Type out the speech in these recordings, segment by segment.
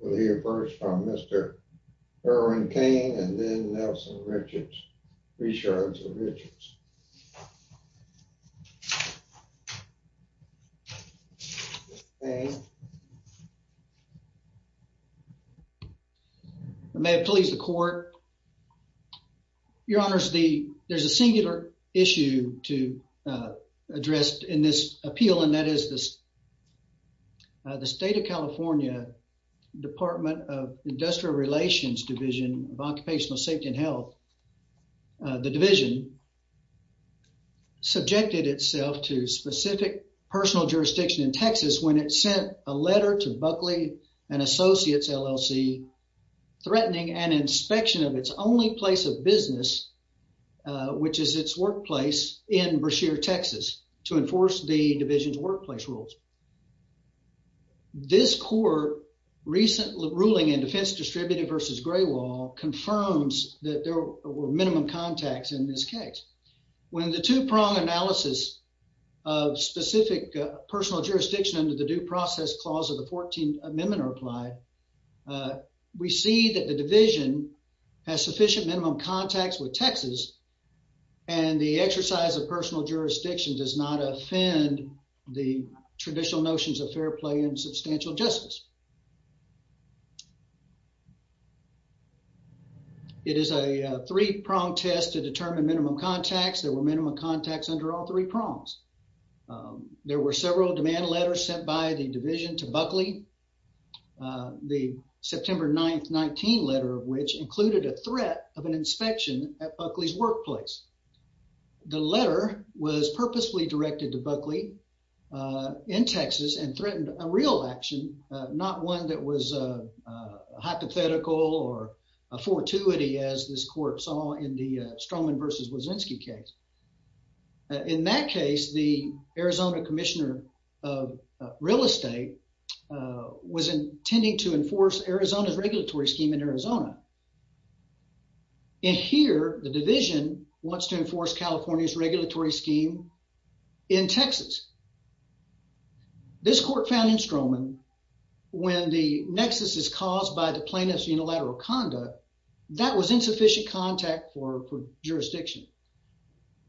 We'll hear first from Mr. Erwin Cain and then Nelson Richards, reshards of Richards. May it please the court. Your Honors, there's a singular issue to address in this appeal and that is the State of California Department of Industrial Relations Division of Occupational Safety and Health, the division, subjected itself to specific personal jurisdiction in a letter to Bulkley & Associates, L.L.C., threatening an inspection of its only place of business, uh, which is its workplace in Brashear, Texas, to enforce the division's workplace rules. This court recent ruling in Defense Distributed v. Graywall confirms that there were minimum contacts in this case. When the two-prong analysis of specific personal jurisdiction under the Due Process Clause of the Fourteenth Amendment are applied, uh, we see that the division has sufficient minimum contacts with Texas and the exercise of personal jurisdiction does not offend the traditional notions of fair play and substantial justice. It is a three-prong test to determine minimum contacts. There were minimum contacts under all three prongs. Um, there were several demand letters sent by the division to Bulkley, uh, the September 9th, 19 letter of which included a threat of an inspection at Bulkley's workplace. The letter was purposefully directed to Bulkley, uh, in Texas and threatened a real action, uh, not one that was, uh, uh, hypothetical or a fortuity as this court saw in the, uh, in that case, the Arizona Commissioner of Real Estate, uh, was intending to enforce Arizona's regulatory scheme in Arizona. And here, the division wants to enforce California's regulatory scheme in Texas. This court found in Stroman when the nexus is caused by the plaintiff's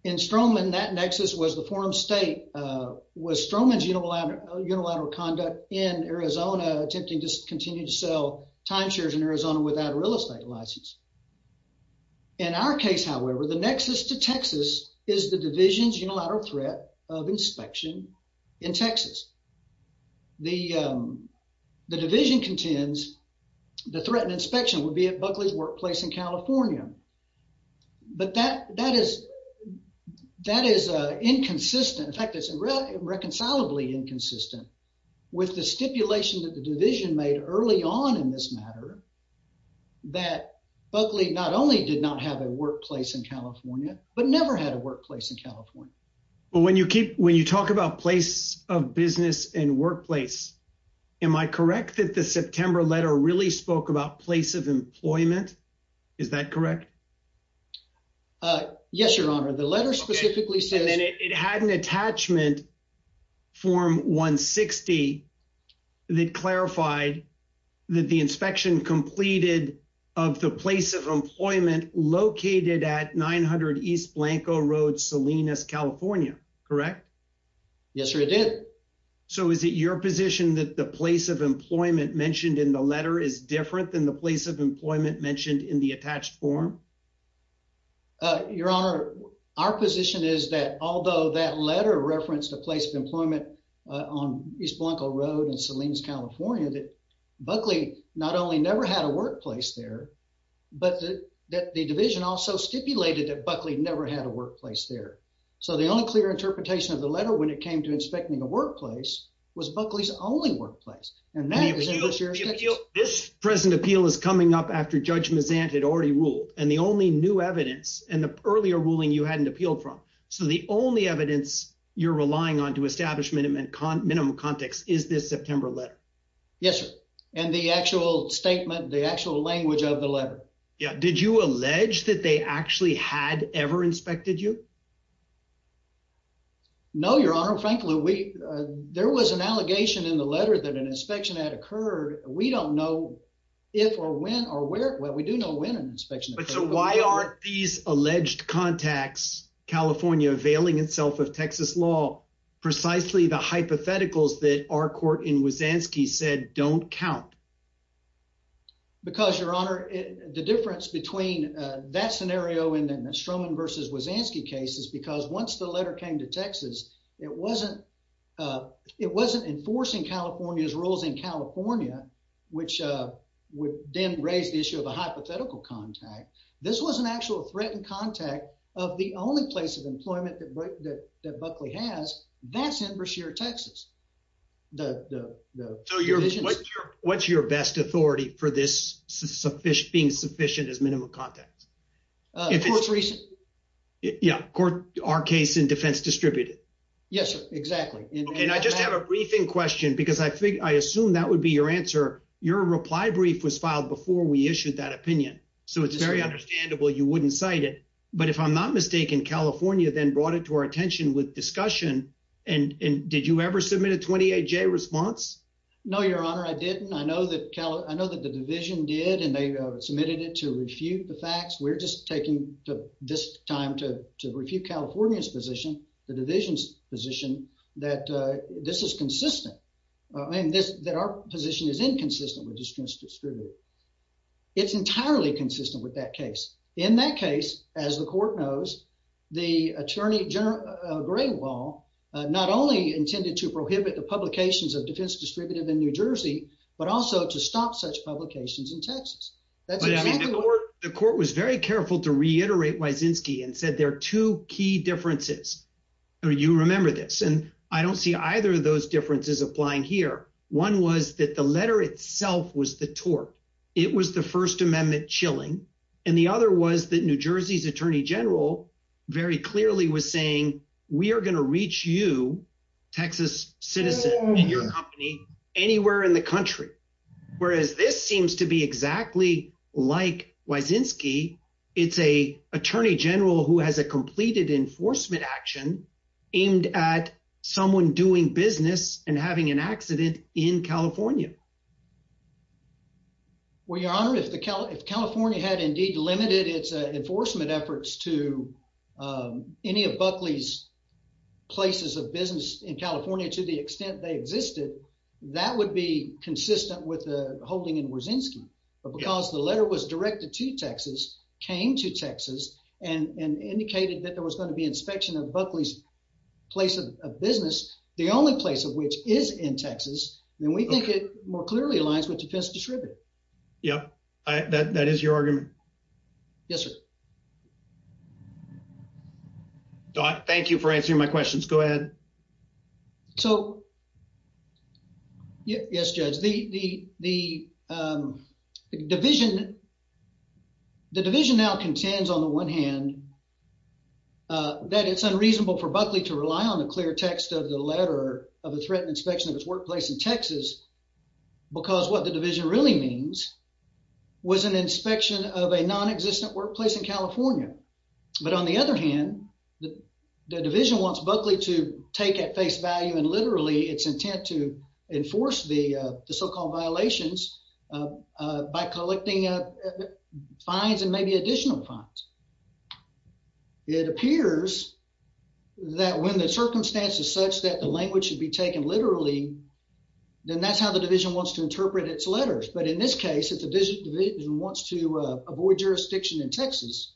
in Stroman, that nexus was the forum state, uh, was Stroman's unilateral conduct in Arizona attempting to continue to sell timeshares in Arizona without a real estate license. In our case, however, the nexus to Texas is the division's unilateral threat of inspection in Texas. The, um, the division contends the threatened inspection would be at Bulkley's workplace in California. But that, that is, that is, uh, inconsistent. In fact, it's reconcilably inconsistent with the stipulation that the division made early on in this matter that Bulkley not only did not have a workplace in California, but never had a workplace in California. But when you keep, when you talk about place of business and workplace, am I correct that the September letter really spoke about place of employment? Is that correct? Uh, yes, your honor. The letter specifically said that it had an attachment form one 60 that clarified that the inspection completed of the place of employment located at 900 East Blanco Road, Salinas, California, correct? Yes, sir. It did. So is it your position that the place of employment mentioned in the letter is different than the place of employment mentioned in the attached form? Uh, your honor, our position is that although that letter referenced the place of employment, uh, on East Blanco Road and Salinas, California, that Buckley not only never had a workplace there, but that the division also stipulated that Buckley never had a workplace there. So the only clear interpretation of the letter when it came to inspecting a workplace was Buckley's only workplace. And that was in the sheriff's office. This present appeal is coming up after judge Mazant had already ruled and the only new evidence and the earlier ruling you hadn't appealed from. So the only evidence you're relying on to establish minimum, minimum context is this September letter? Yes, sir. And the actual statement, the actual language of the letter. Yeah. Did you allege that they actually had ever inspected you? No, your honor. Frankly, we, uh, there was an allegation in the letter that an inspection had occurred. We don't know if or when or where, well, we do know when an inspection. Why aren't these alleged contacts California availing itself of Texas law, precisely the hypotheticals that our court in Wazanski said don't count because your honor the difference between that scenario in the Stroman versus Wazanski cases because once the letter came to Texas, it wasn't, uh, it wasn't enforcing California's rules in California, which, uh, would then raise the issue of a hypothetical contact. This was an actual threatened contact of the only place of employment that, that, that Buckley has that's in Brashear, Texas. The, the, the, so what's your best authority for this sufficient being sufficient as minimum context? Uh, if it's recent court, our case in defense distributed. Yes, sir. Exactly. And I just have a briefing question because I figured, I assume that would be your answer. Your reply brief was filed before we issued that opinion. So it's very understandable. You wouldn't cite it, but if I'm not mistaken, California then brought it to our attention with discussion. And, and did you ever submit a 28 J response? No, your honor. I didn't. I know that Cal, I know that the division did and they submitted it to refute the facts. We're just taking this time to, to refute California's position, the division's position that, uh, this is consistent. I mean, this, that our position is inconsistent with just distributed. It's entirely consistent with that case. In that case, as the court knows, the attorney general, uh, gray wall, uh, not only intended to prohibit the publications of defense distributed in New Jersey, but also to stop such publications in Texas. The court was very careful to reiterate Wysinski and said, there are two key differences or you remember this. And I don't see either of it was the first amendment chilling. And the other was that New Jersey's attorney general very clearly was saying, we are going to reach you, Texas citizen and your company anywhere in the country. Whereas this seems to be exactly like Wysinski. It's a attorney general who has a completed enforcement action aimed at someone doing business and having an accident in California. Well, your honor, if the Cal, if California had indeed limited its enforcement efforts to, um, any of Buckley's places of business in California, to the extent they existed, that would be consistent with the holding in Wysinski. But because the letter was directed to Texas, came to Texas and indicated that there was going to be inspection of Buckley's place of business, the only place of which is in Texas, then we think it more clearly aligns with defense distributed. Yep. I, that, that is your argument. Yes, sir. Thank you for answering my questions. Go ahead. So yes, judge, the, the, the, um, to rely on the clear text of the letter of the threatened inspection of his workplace in Texas, because what the division really means was an inspection of a non-existent workplace in California. But on the other hand, the division wants Buckley to take at face value and literally its intent to enforce the, uh, the so-called violations, uh, uh, by collecting, uh, fines and maybe additional fines. It appears that when the circumstance is such that the language should be taken literally, then that's how the division wants to interpret its letters. But in this case, if the division wants to, uh, avoid jurisdiction in Texas,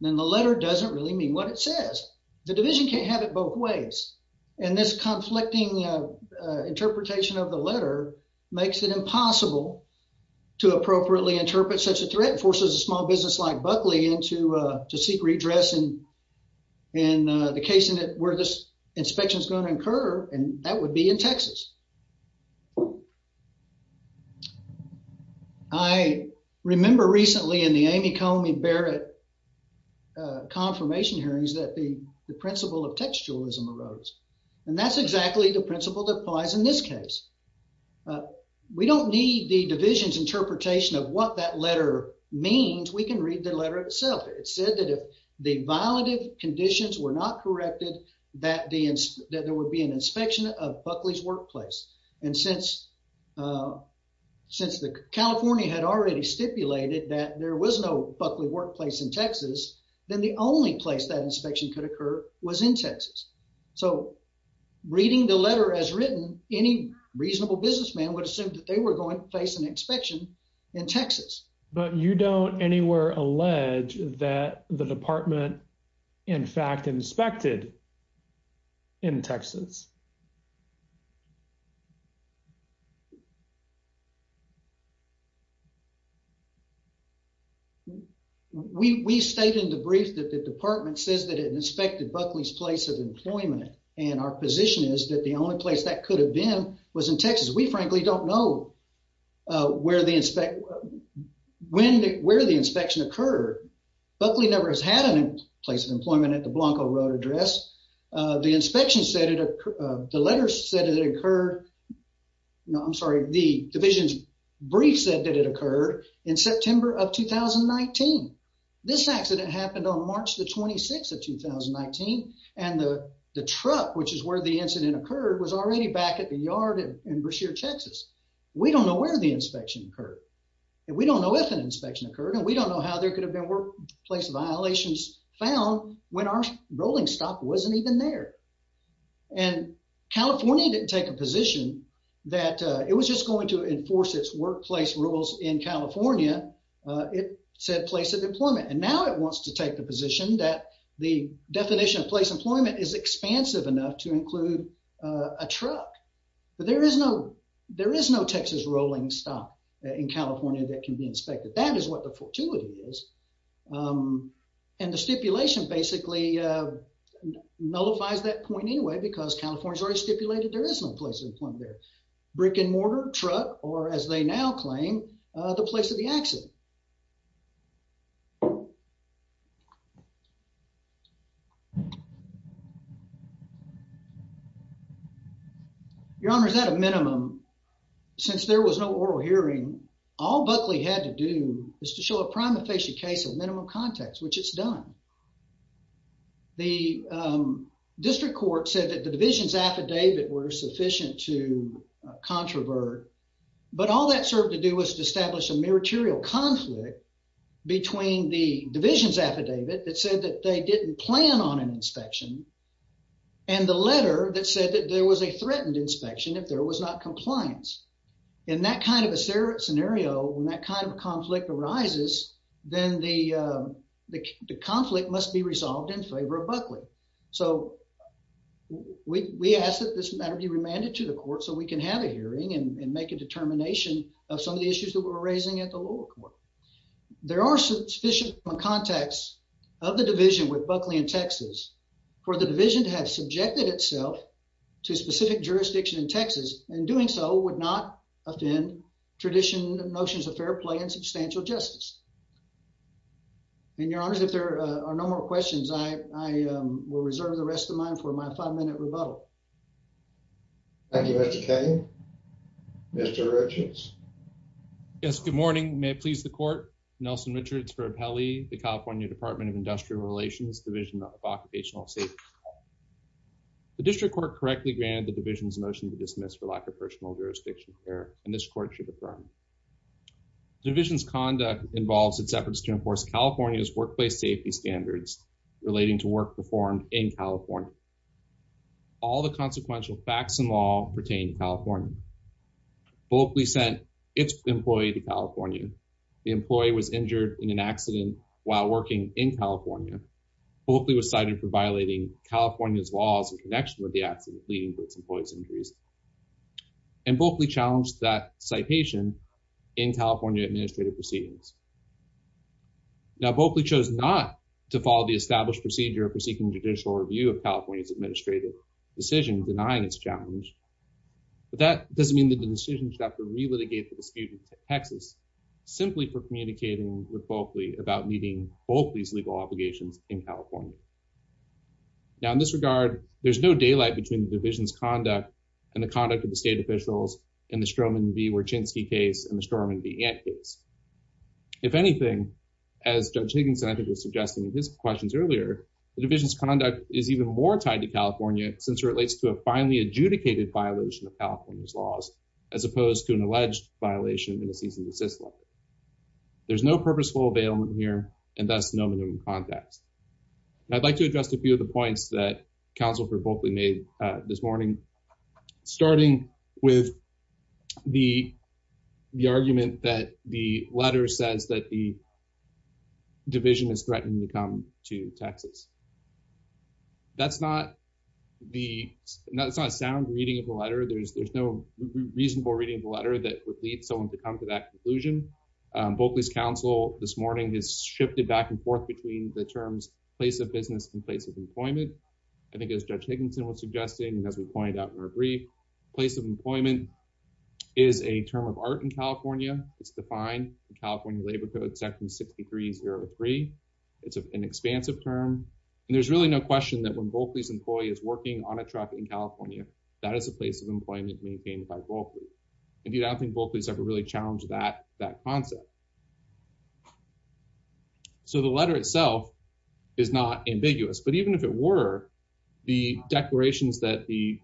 then the letter doesn't really mean what it says. The division can't have it both ways. And this conflicting, uh, uh, interpretation of the letter makes it impossible to appropriately interpret such a threat, forces a small business like Buckley into, uh, to seek redress and, and, uh, the case in it where this inspection is going to occur, and that would be in Texas. I remember recently in the Amy Comey Barrett, uh, confirmation hearings that the, the principle of textualism arose. And that's exactly the principle that applies in this case. We don't need the division's interpretation of what that letter means. We can read the letter itself. It said that if the violative conditions were not corrected, that the, that there would be an inspection of Buckley's workplace. And since, uh, since the California had already stipulated that there was no Buckley workplace in Texas, then the only place that inspection could occur was in Texas. So reading the letter as written, any reasonable businessman would assume that they were going to face an inspection in Texas. But you don't anywhere allege that the department in fact inspected in Texas. We, we state in the brief that the department says that it inspected Buckley's place of employment. And our position is that the only place that could have been was in Texas. We frankly don't know, uh, where the inspect, when, where the inspection occurred. Buckley never has had a place of employment at the Blanco Road address. Uh, the inspection said it occurred, uh, the letter said it occurred. No, I'm sorry. The division's brief said that it occurred in September of 2019. This accident happened on March the 26th of 2019. And the, the truck, which is where the incident occurred, was already back at the yard in Brashear, Texas. We don't know where the inspection occurred, and we don't know if an inspection occurred, and we don't know how there could have been workplace violations found when our rolling stock wasn't even there. And California didn't take a position that, uh, it was just going to enforce its workplace rules in California. Uh, it said place of employment, and now it wants to take the position that the definition of place employment is expansive enough to include, uh, a truck. But there is no, there is no Texas rolling stock in California that can be inspected. That is what the fortuity is. Um, and the stipulation basically, uh, nullifies that point anyway, because California's already stipulated there is no place of employment there. Brick and mortar, truck, or as they now claim, uh, the place of the accident. Okay. Your Honor, is that a minimum? Since there was no oral hearing, all Buckley had to do is to show a prime official case of minimum context, which it's done. The, um, district court said that the division's affidavit were sufficient to explain the conflict between the division's affidavit that said that they didn't plan on an inspection and the letter that said that there was a threatened inspection if there was not compliance. In that kind of a scenario, when that kind of conflict arises, then the, uh, the conflict must be resolved in favor of Buckley. So we, we ask that this matter be remanded to the court so we can have a hearing and make a determination of some of the issues that we're raising at the lower court. There are sufficient contacts of the division with Buckley in Texas for the division to have subjected itself to specific jurisdiction in Texas, and doing so would not offend tradition notions of fair play and substantial justice. And, Your Honor, if there are no more questions, I will reserve the rest of mine for my five minutes. Mr. King? Mr. Richards? Yes, good morning. May it please the court. Nelson Richards for Appelli, the California Department of Industrial Relations, Division of Occupational Safety. The district court correctly granted the division's motion to dismiss for lack of personal jurisdiction here, and this court should affirm. The division's conduct involves its efforts to enforce California's workplace safety standards relating to work performed in California. All the consequential facts and law pertain to California. Buckley sent its employee to California. The employee was injured in an accident while working in California. Buckley was cited for violating California's laws in connection with the accident, leading to its employee's injuries. And Buckley challenged that citation in California administrative proceedings. Now, Buckley chose not to follow the established procedure for seeking judicial review of California's administrative decision denying its challenge, but that doesn't mean that the decision should have to relitigate the dispute in Texas simply for communicating with Buckley about meeting both these legal obligations in California. Now, in this regard, there's no daylight between the division's conduct and the conduct of the state officials in the Stroman v. Wierczynski case and the Stroman v. Ant case. If anything, as Judge Higginson, I think, was suggesting in his questions earlier, the division's conduct is even more tied to California since it relates to a finely adjudicated violation of California's laws as opposed to an alleged violation in a cease and desist letter. There's no purposeful availment here and thus no minimum context. I'd like to address a few of the points that Counsel for Buckley made this morning, starting with the Texas. That's not a sound reading of the letter. There's no reasonable reading of the letter that would lead someone to come to that conclusion. Buckley's counsel this morning has shifted back and forth between the terms place of business and place of employment. I think as Judge Higginson was suggesting, as we pointed out in our brief, place of employment is a term of art in California. It's defined in California Labor Code Section 6303. It's an expansive term and there's really no question that when Bulkley's employee is working on a truck in California, that is the place of employment maintained by Bulkley. And I don't think Bulkley's ever really challenged that concept. So the letter itself is not ambiguous, but even if it were, the declarations that the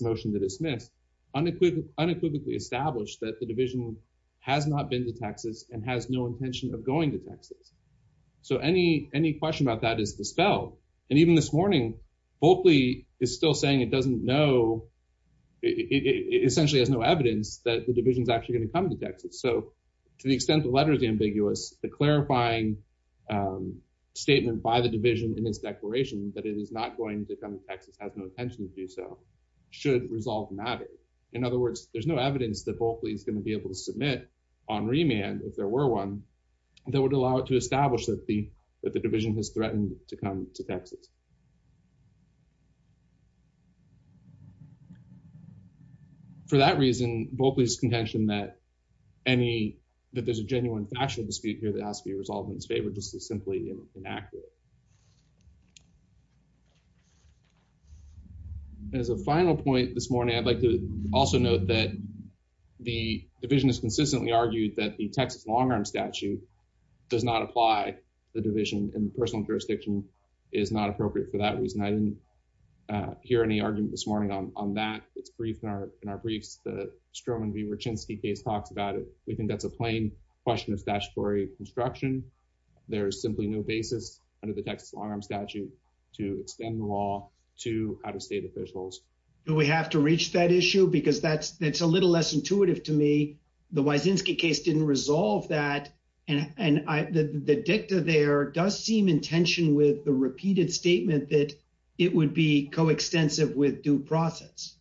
motion to dismiss unequivocally established that the division has not been to Texas and has no intention of going to Texas. So any question about that is dispelled. And even this morning, Bulkley is still saying it doesn't know, it essentially has no evidence that the division is actually going to come to Texas. So to the extent the letter is ambiguous, the clarifying statement by the division in its declaration that it is not going to come to Texas, has no intention to do so, should resolve matter. In other words, there's no evidence that Bulkley is going to be able to submit on remand, if there were one, that would allow it to establish that the division has threatened to come to Texas. For that reason, Bulkley's contention that there's a genuine factual dispute here that has to be resolved in its favor just is simply inaccurate. As a final point this morning, I'd like to also note that the division has consistently argued that the Texas long-arm statute does not apply the division and personal jurisdiction is not appropriate for that reason. I didn't hear any argument this morning on that. It's briefed in our briefs, the Stroman v. Ruchinsky case talks about it. We think that's a plain question of statutory construction. There's simply no basis under the Texas long-arm statute to extend the out-of-state officials. Do we have to reach that issue? Because that's a little less intuitive to me. The Wysinski case didn't resolve that and the dicta there does seem in tension with the repeated statement that it would be coextensive with due process.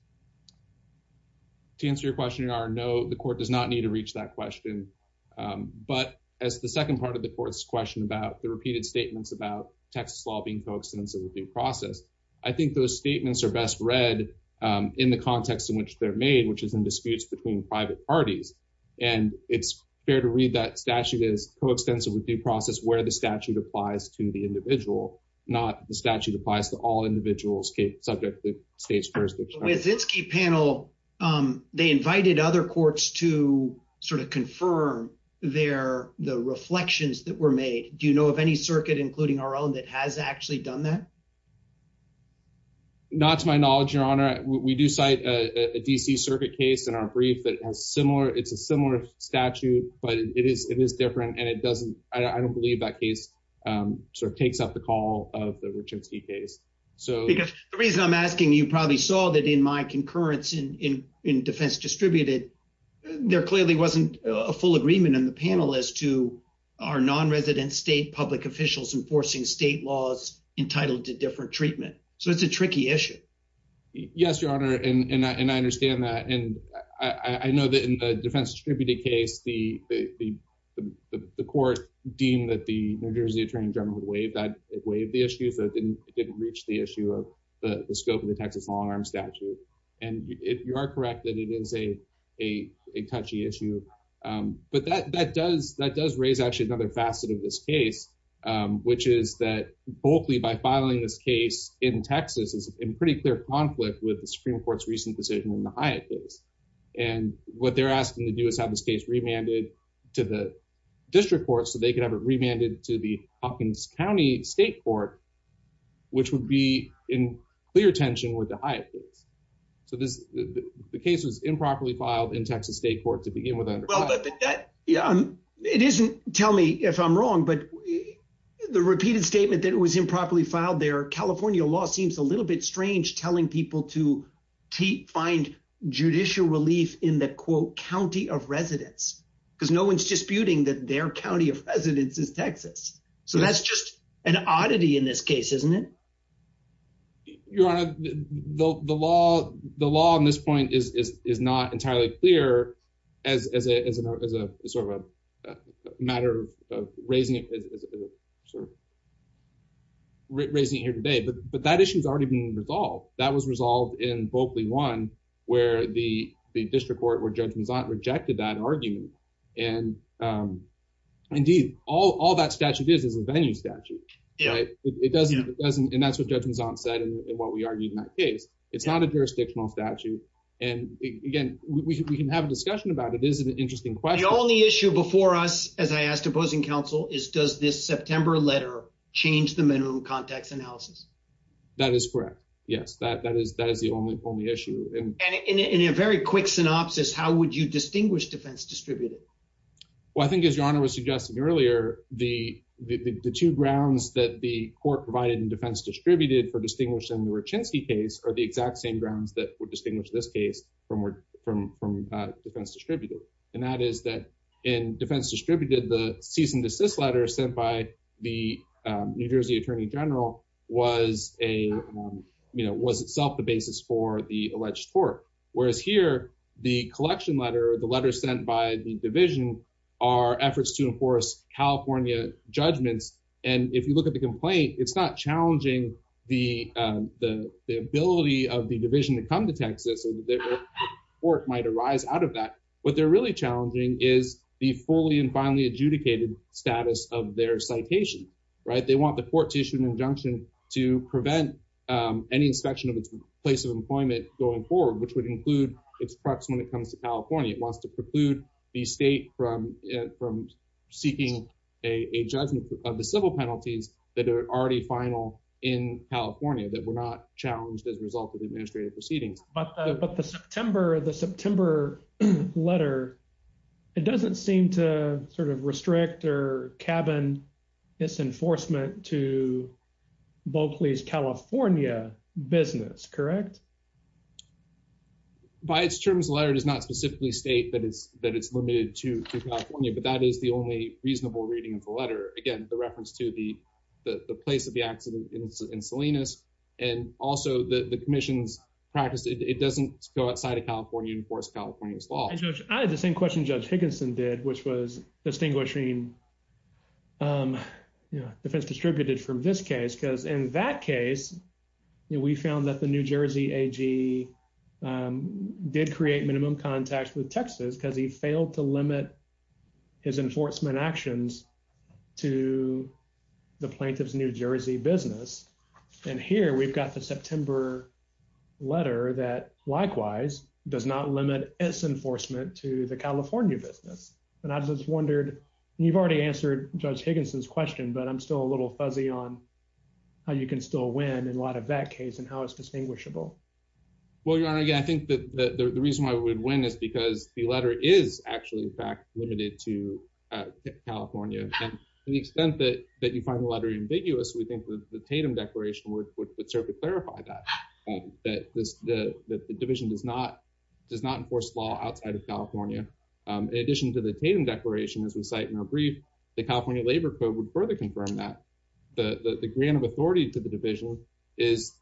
To answer your question, your Honor, no, the court does not need to reach that question. But as the second part of the court's question about the repeated statements about Texas law being coextensive with due process, I think those statements are best read in the context in which they're made, which is in disputes between private parties. And it's fair to read that statute as coextensive with due process where the statute applies to the individual, not the statute applies to all individuals subject to state's jurisdiction. The Wysinski panel, they invited other courts to sort of confirm their, the reflections that were made. Do you know of any circuit, including our own, that has actually done that? Not to my knowledge, your Honor. We do cite a DC circuit case in our brief that has similar, it's a similar statute, but it is different. And it doesn't, I don't believe that case sort of takes up the call of the Wysinski case. Because the reason I'm asking, you probably saw that in my concurrence in defense distributed, there clearly wasn't a full agreement in the panel as to our non-resident state public officials enforcing state laws entitled to different treatment. So it's a tricky issue. Yes, your Honor. And I understand that. And I know that in the defense distributed case, the court deemed that the New Jersey attorney general had waived the issue. So it didn't reach the issue of the scope of the Texas long arm statute. And you are correct that it is a touchy issue. But that does raise actually another facet of this case, which is that Bolkley, by filing this case in Texas is in pretty clear conflict with the Supreme Court's recent decision in the Hyatt case. And what they're asking to do is have this case remanded to the district court so they could have it remanded to the Hawkins County State Court, which would be in clear tension with the Hyatt case. So the case was improperly filed in Texas State Court to begin with. It isn't, tell me if I'm wrong, but the repeated statement that it was improperly filed there, California law seems a little bit strange telling people to find judicial relief in the quote, county of residence, because no one's disputing that their county of residence is Texas. So that's just an oddity in this case, isn't it? Your Honor, the law on this point is not entirely clear as a sort of a matter of raising it here today, but that issue has already been resolved. That was resolved in the district court where Judge Mazzant rejected that argument. And indeed, all that statute is, is a venue statute, right? And that's what Judge Mazzant said in what we argued in that case. It's not a jurisdictional statute. And again, we can have a discussion about it. It is an interesting question. The only issue before us, as I asked opposing counsel, is does this September letter change the minimum context analysis? That is correct. Yes, that, that is, that is the only, only issue. And in a very quick synopsis, how would you distinguish defense distributed? Well, I think as Your Honor was suggesting earlier, the, the two grounds that the court provided in defense distributed for distinguishing the Rachinsky case are the exact same grounds that would distinguish this case from, from, from defense distributed. And that is that in defense a, you know, was itself the basis for the alleged tort. Whereas here, the collection letter, the letter sent by the division are efforts to enforce California judgments. And if you look at the complaint, it's not challenging the, the, the ability of the division to come to Texas, work might arise out of that. What they're really challenging is the fully and finally adjudicated status of their citation, right? They want the court to issue an injunction to prevent any inspection of its place of employment going forward, which would include its proximity comes to California. It wants to preclude the state from, from seeking a judgment of the civil penalties that are already final in California that were not challenged as a result of the administrative proceedings. But, but the September, the September letter, it doesn't seem to sort of restrict or cabin this enforcement to Bulkley's California business, correct? By its terms, the letter does not specifically state that it's, that it's limited to California, but that is the only reasonable reading of the letter. Again, the reference to the, the place of the accident in Salinas, and also the commission's practice, it doesn't go outside California and enforce California's law. I had the same question judge Higginson did, which was distinguishing, you know, defense distributed from this case, because in that case, we found that the New Jersey AG did create minimum contacts with Texas because he failed to limit his enforcement actions to the plaintiff's New Jersey business. And here we've got the September letter that likewise does not limit its enforcement to the California business. And I just wondered, you've already answered judge Higginson's question, but I'm still a little fuzzy on how you can still win in light of that case and how it's distinguishable. Well, your honor, yeah, I think that the reason why we would win is because the letter is actually in fact, limited to California. And to the extent that, that you find the letter ambiguous, we think the Tatum declaration would serve to clarify that, that the division does not enforce law outside of California. In addition to the Tatum declaration, as we cite in our brief, the California labor code would further confirm that. The grant of authority to the division gives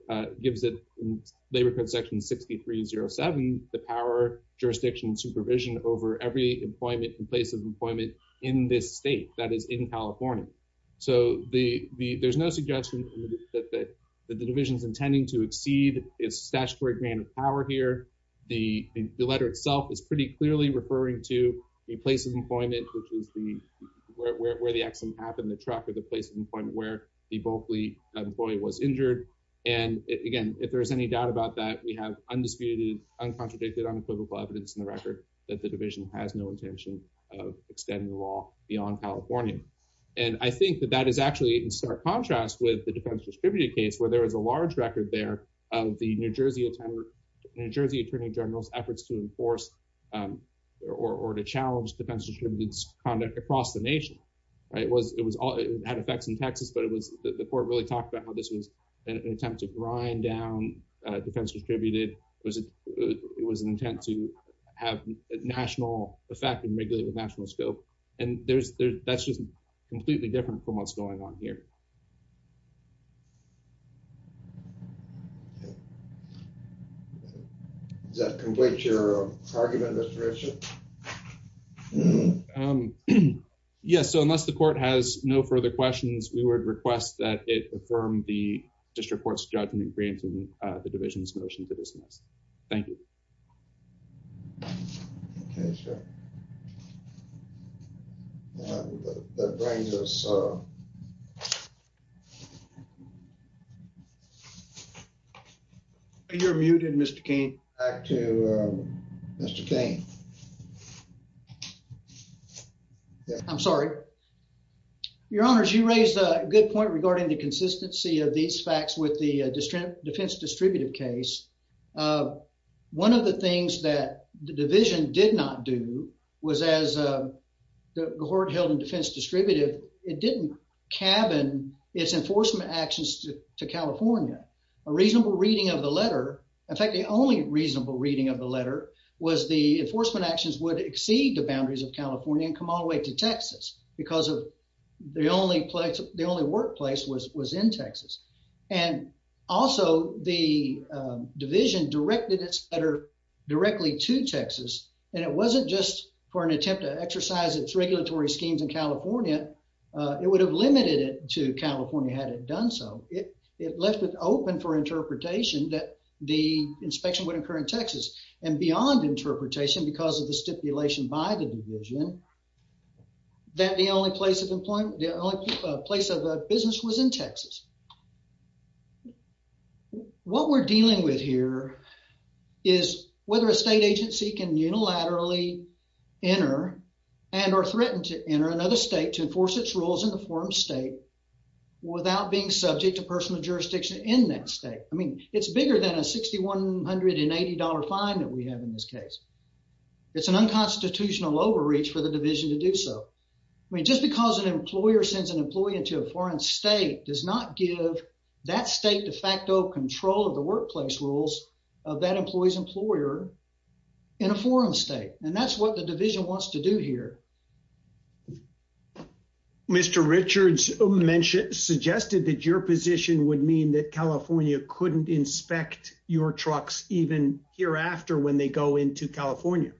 it, in labor code section 6307, the power, jurisdiction, and supervision over every employment place of employment in this state that is in California. So there's no suggestion that the division's intending to exceed its statutory grant of power here. The letter itself is pretty clearly referring to the place of employment, which is where the accident happened, the truck or the place of employment where the Berkeley employee was injured. And again, if there's any doubt about that, we have undisputed, uncontradicted, unequivocal evidence in the record that the extending the law beyond California. And I think that that is actually in stark contrast with the defense distributed case where there was a large record there of the New Jersey attorney general's efforts to enforce or to challenge defense distributed conduct across the nation. It had effects in Texas, but the court really talked about how this was an attempt to grind down defense distributed. It was an intent to have a national effect and regulate the national scope. And that's just completely different from what's going on here. Does that complete your argument, Mr. Richard? Yes. So unless the court has no further questions, we would request that it is motion to dismiss. Thank you. You're muted, Mr. Kane. Back to Mr. Kane. I'm sorry. Your honors, you raised a good point regarding the consistency of these facts with the defense distributive case. One of the things that the division did not do was as the court held in defense distributive, it didn't cabin its enforcement actions to California. A reasonable reading of the letter, in fact, the only reasonable reading of the letter was the enforcement actions would exceed the boundaries of California and come all the way to Texas because of the only place, was in Texas. And also the division directed its letter directly to Texas. And it wasn't just for an attempt to exercise its regulatory schemes in California. It would have limited it to California had it done so. It left it open for interpretation that the inspection would occur in Texas and beyond interpretation because of the stipulation by the division that the only place of employment, a place of business was in Texas. What we're dealing with here is whether a state agency can unilaterally enter and are threatened to enter another state to enforce its rules in the form state without being subject to personal jurisdiction in that state. I mean, it's bigger than a $6,180 fine that we have in this case. It's an unconstitutional overreach for the division to do so. I mean, just because an employer sends an employee into a foreign state does not give that state de facto control of the workplace rules of that employee's employer in a foreign state. And that's what the division wants to do here. Mr. Richards suggested that your position would mean that California couldn't inspect your trucks even hereafter when they go into California.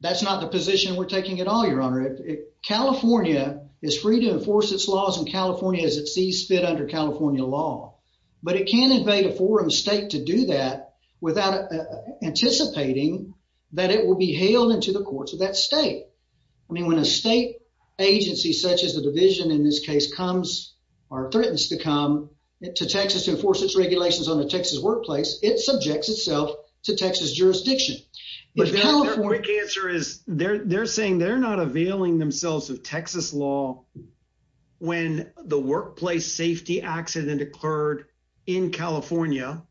That's not the position we're taking at all, your honor. California is free to enforce its laws in California as it sees fit under California law, but it can't invade a foreign state to do that without anticipating that it will be hailed into the courts of that state. I mean, when a state agency such as the division in this case comes or threatens to come to Texas to enforce its regulations on the Texas workplace, it subjects itself to Texas jurisdiction. The quick answer is they're saying they're not availing themselves of Texas law when the workplace safety accident occurred in California,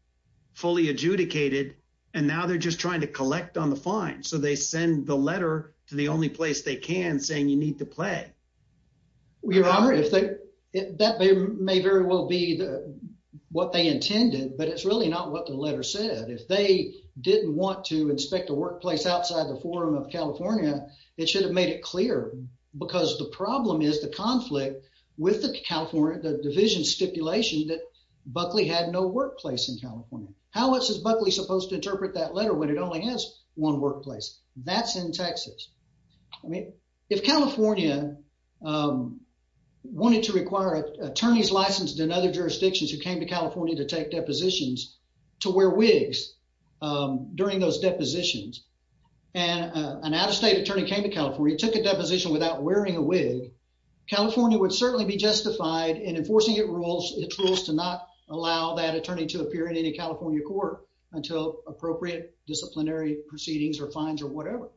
fully adjudicated, and now they're just trying to collect on the fine. So they send the letter to the only place they can saying you need to play. Well, your honor, that may very well be what they intended, but it's really not what the letter said. If they didn't want to inspect a workplace outside the forum of California, it should have made it clear because the problem is the conflict with the division stipulation that Buckley had no workplace in California. How else is Buckley supposed to interpret that letter when it only has one workplace? That's in Texas. I mean, if California wanted to require attorneys licensed in other jurisdictions who came to California to take depositions to wear wigs during those depositions and an out-of-state attorney came to California, took a deposition without wearing a wig, California would certainly be justified in enforcing its rules to not allow that attorney to appear in any California court until appropriate disciplinary proceedings or fines or whatever.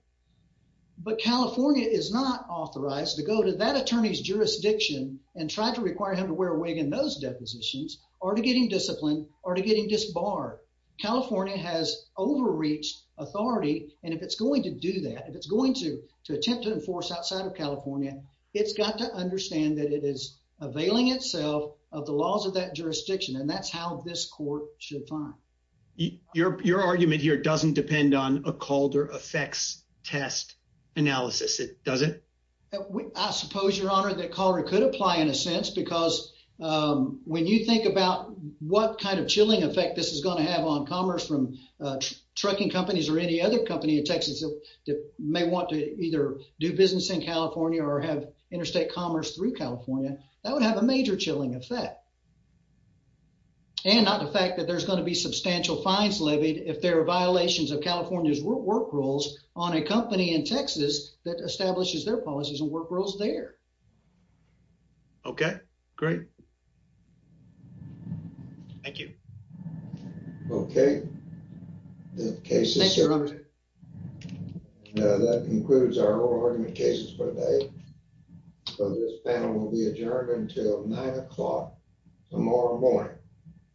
But California is not authorized to go to that attorney's jurisdiction and try to require him to wear a wig in those depositions or to getting disciplined or to getting disbarred. California has overreached authority, and if it's going to do that, if it's going to, to attempt to enforce outside of California, it's got to understand that it is availing itself of the laws of that court. Your argument here doesn't depend on a Calder effects test analysis. It doesn't. I suppose your honor that Calder could apply in a sense because when you think about what kind of chilling effect this is going to have on commerce from trucking companies or any other company in Texas that may want to either do business in California or have interstate commerce through California, that would have a major chilling effect. And not the fact that there's going to be substantial fines levied if there are violations of California's work rules on a company in Texas that establishes their policies and work rules there. Okay, great. Thank you. Okay. The case is here. That concludes our oral argument cases for today. So this panel will be adjourned until nine o'clock tomorrow morning.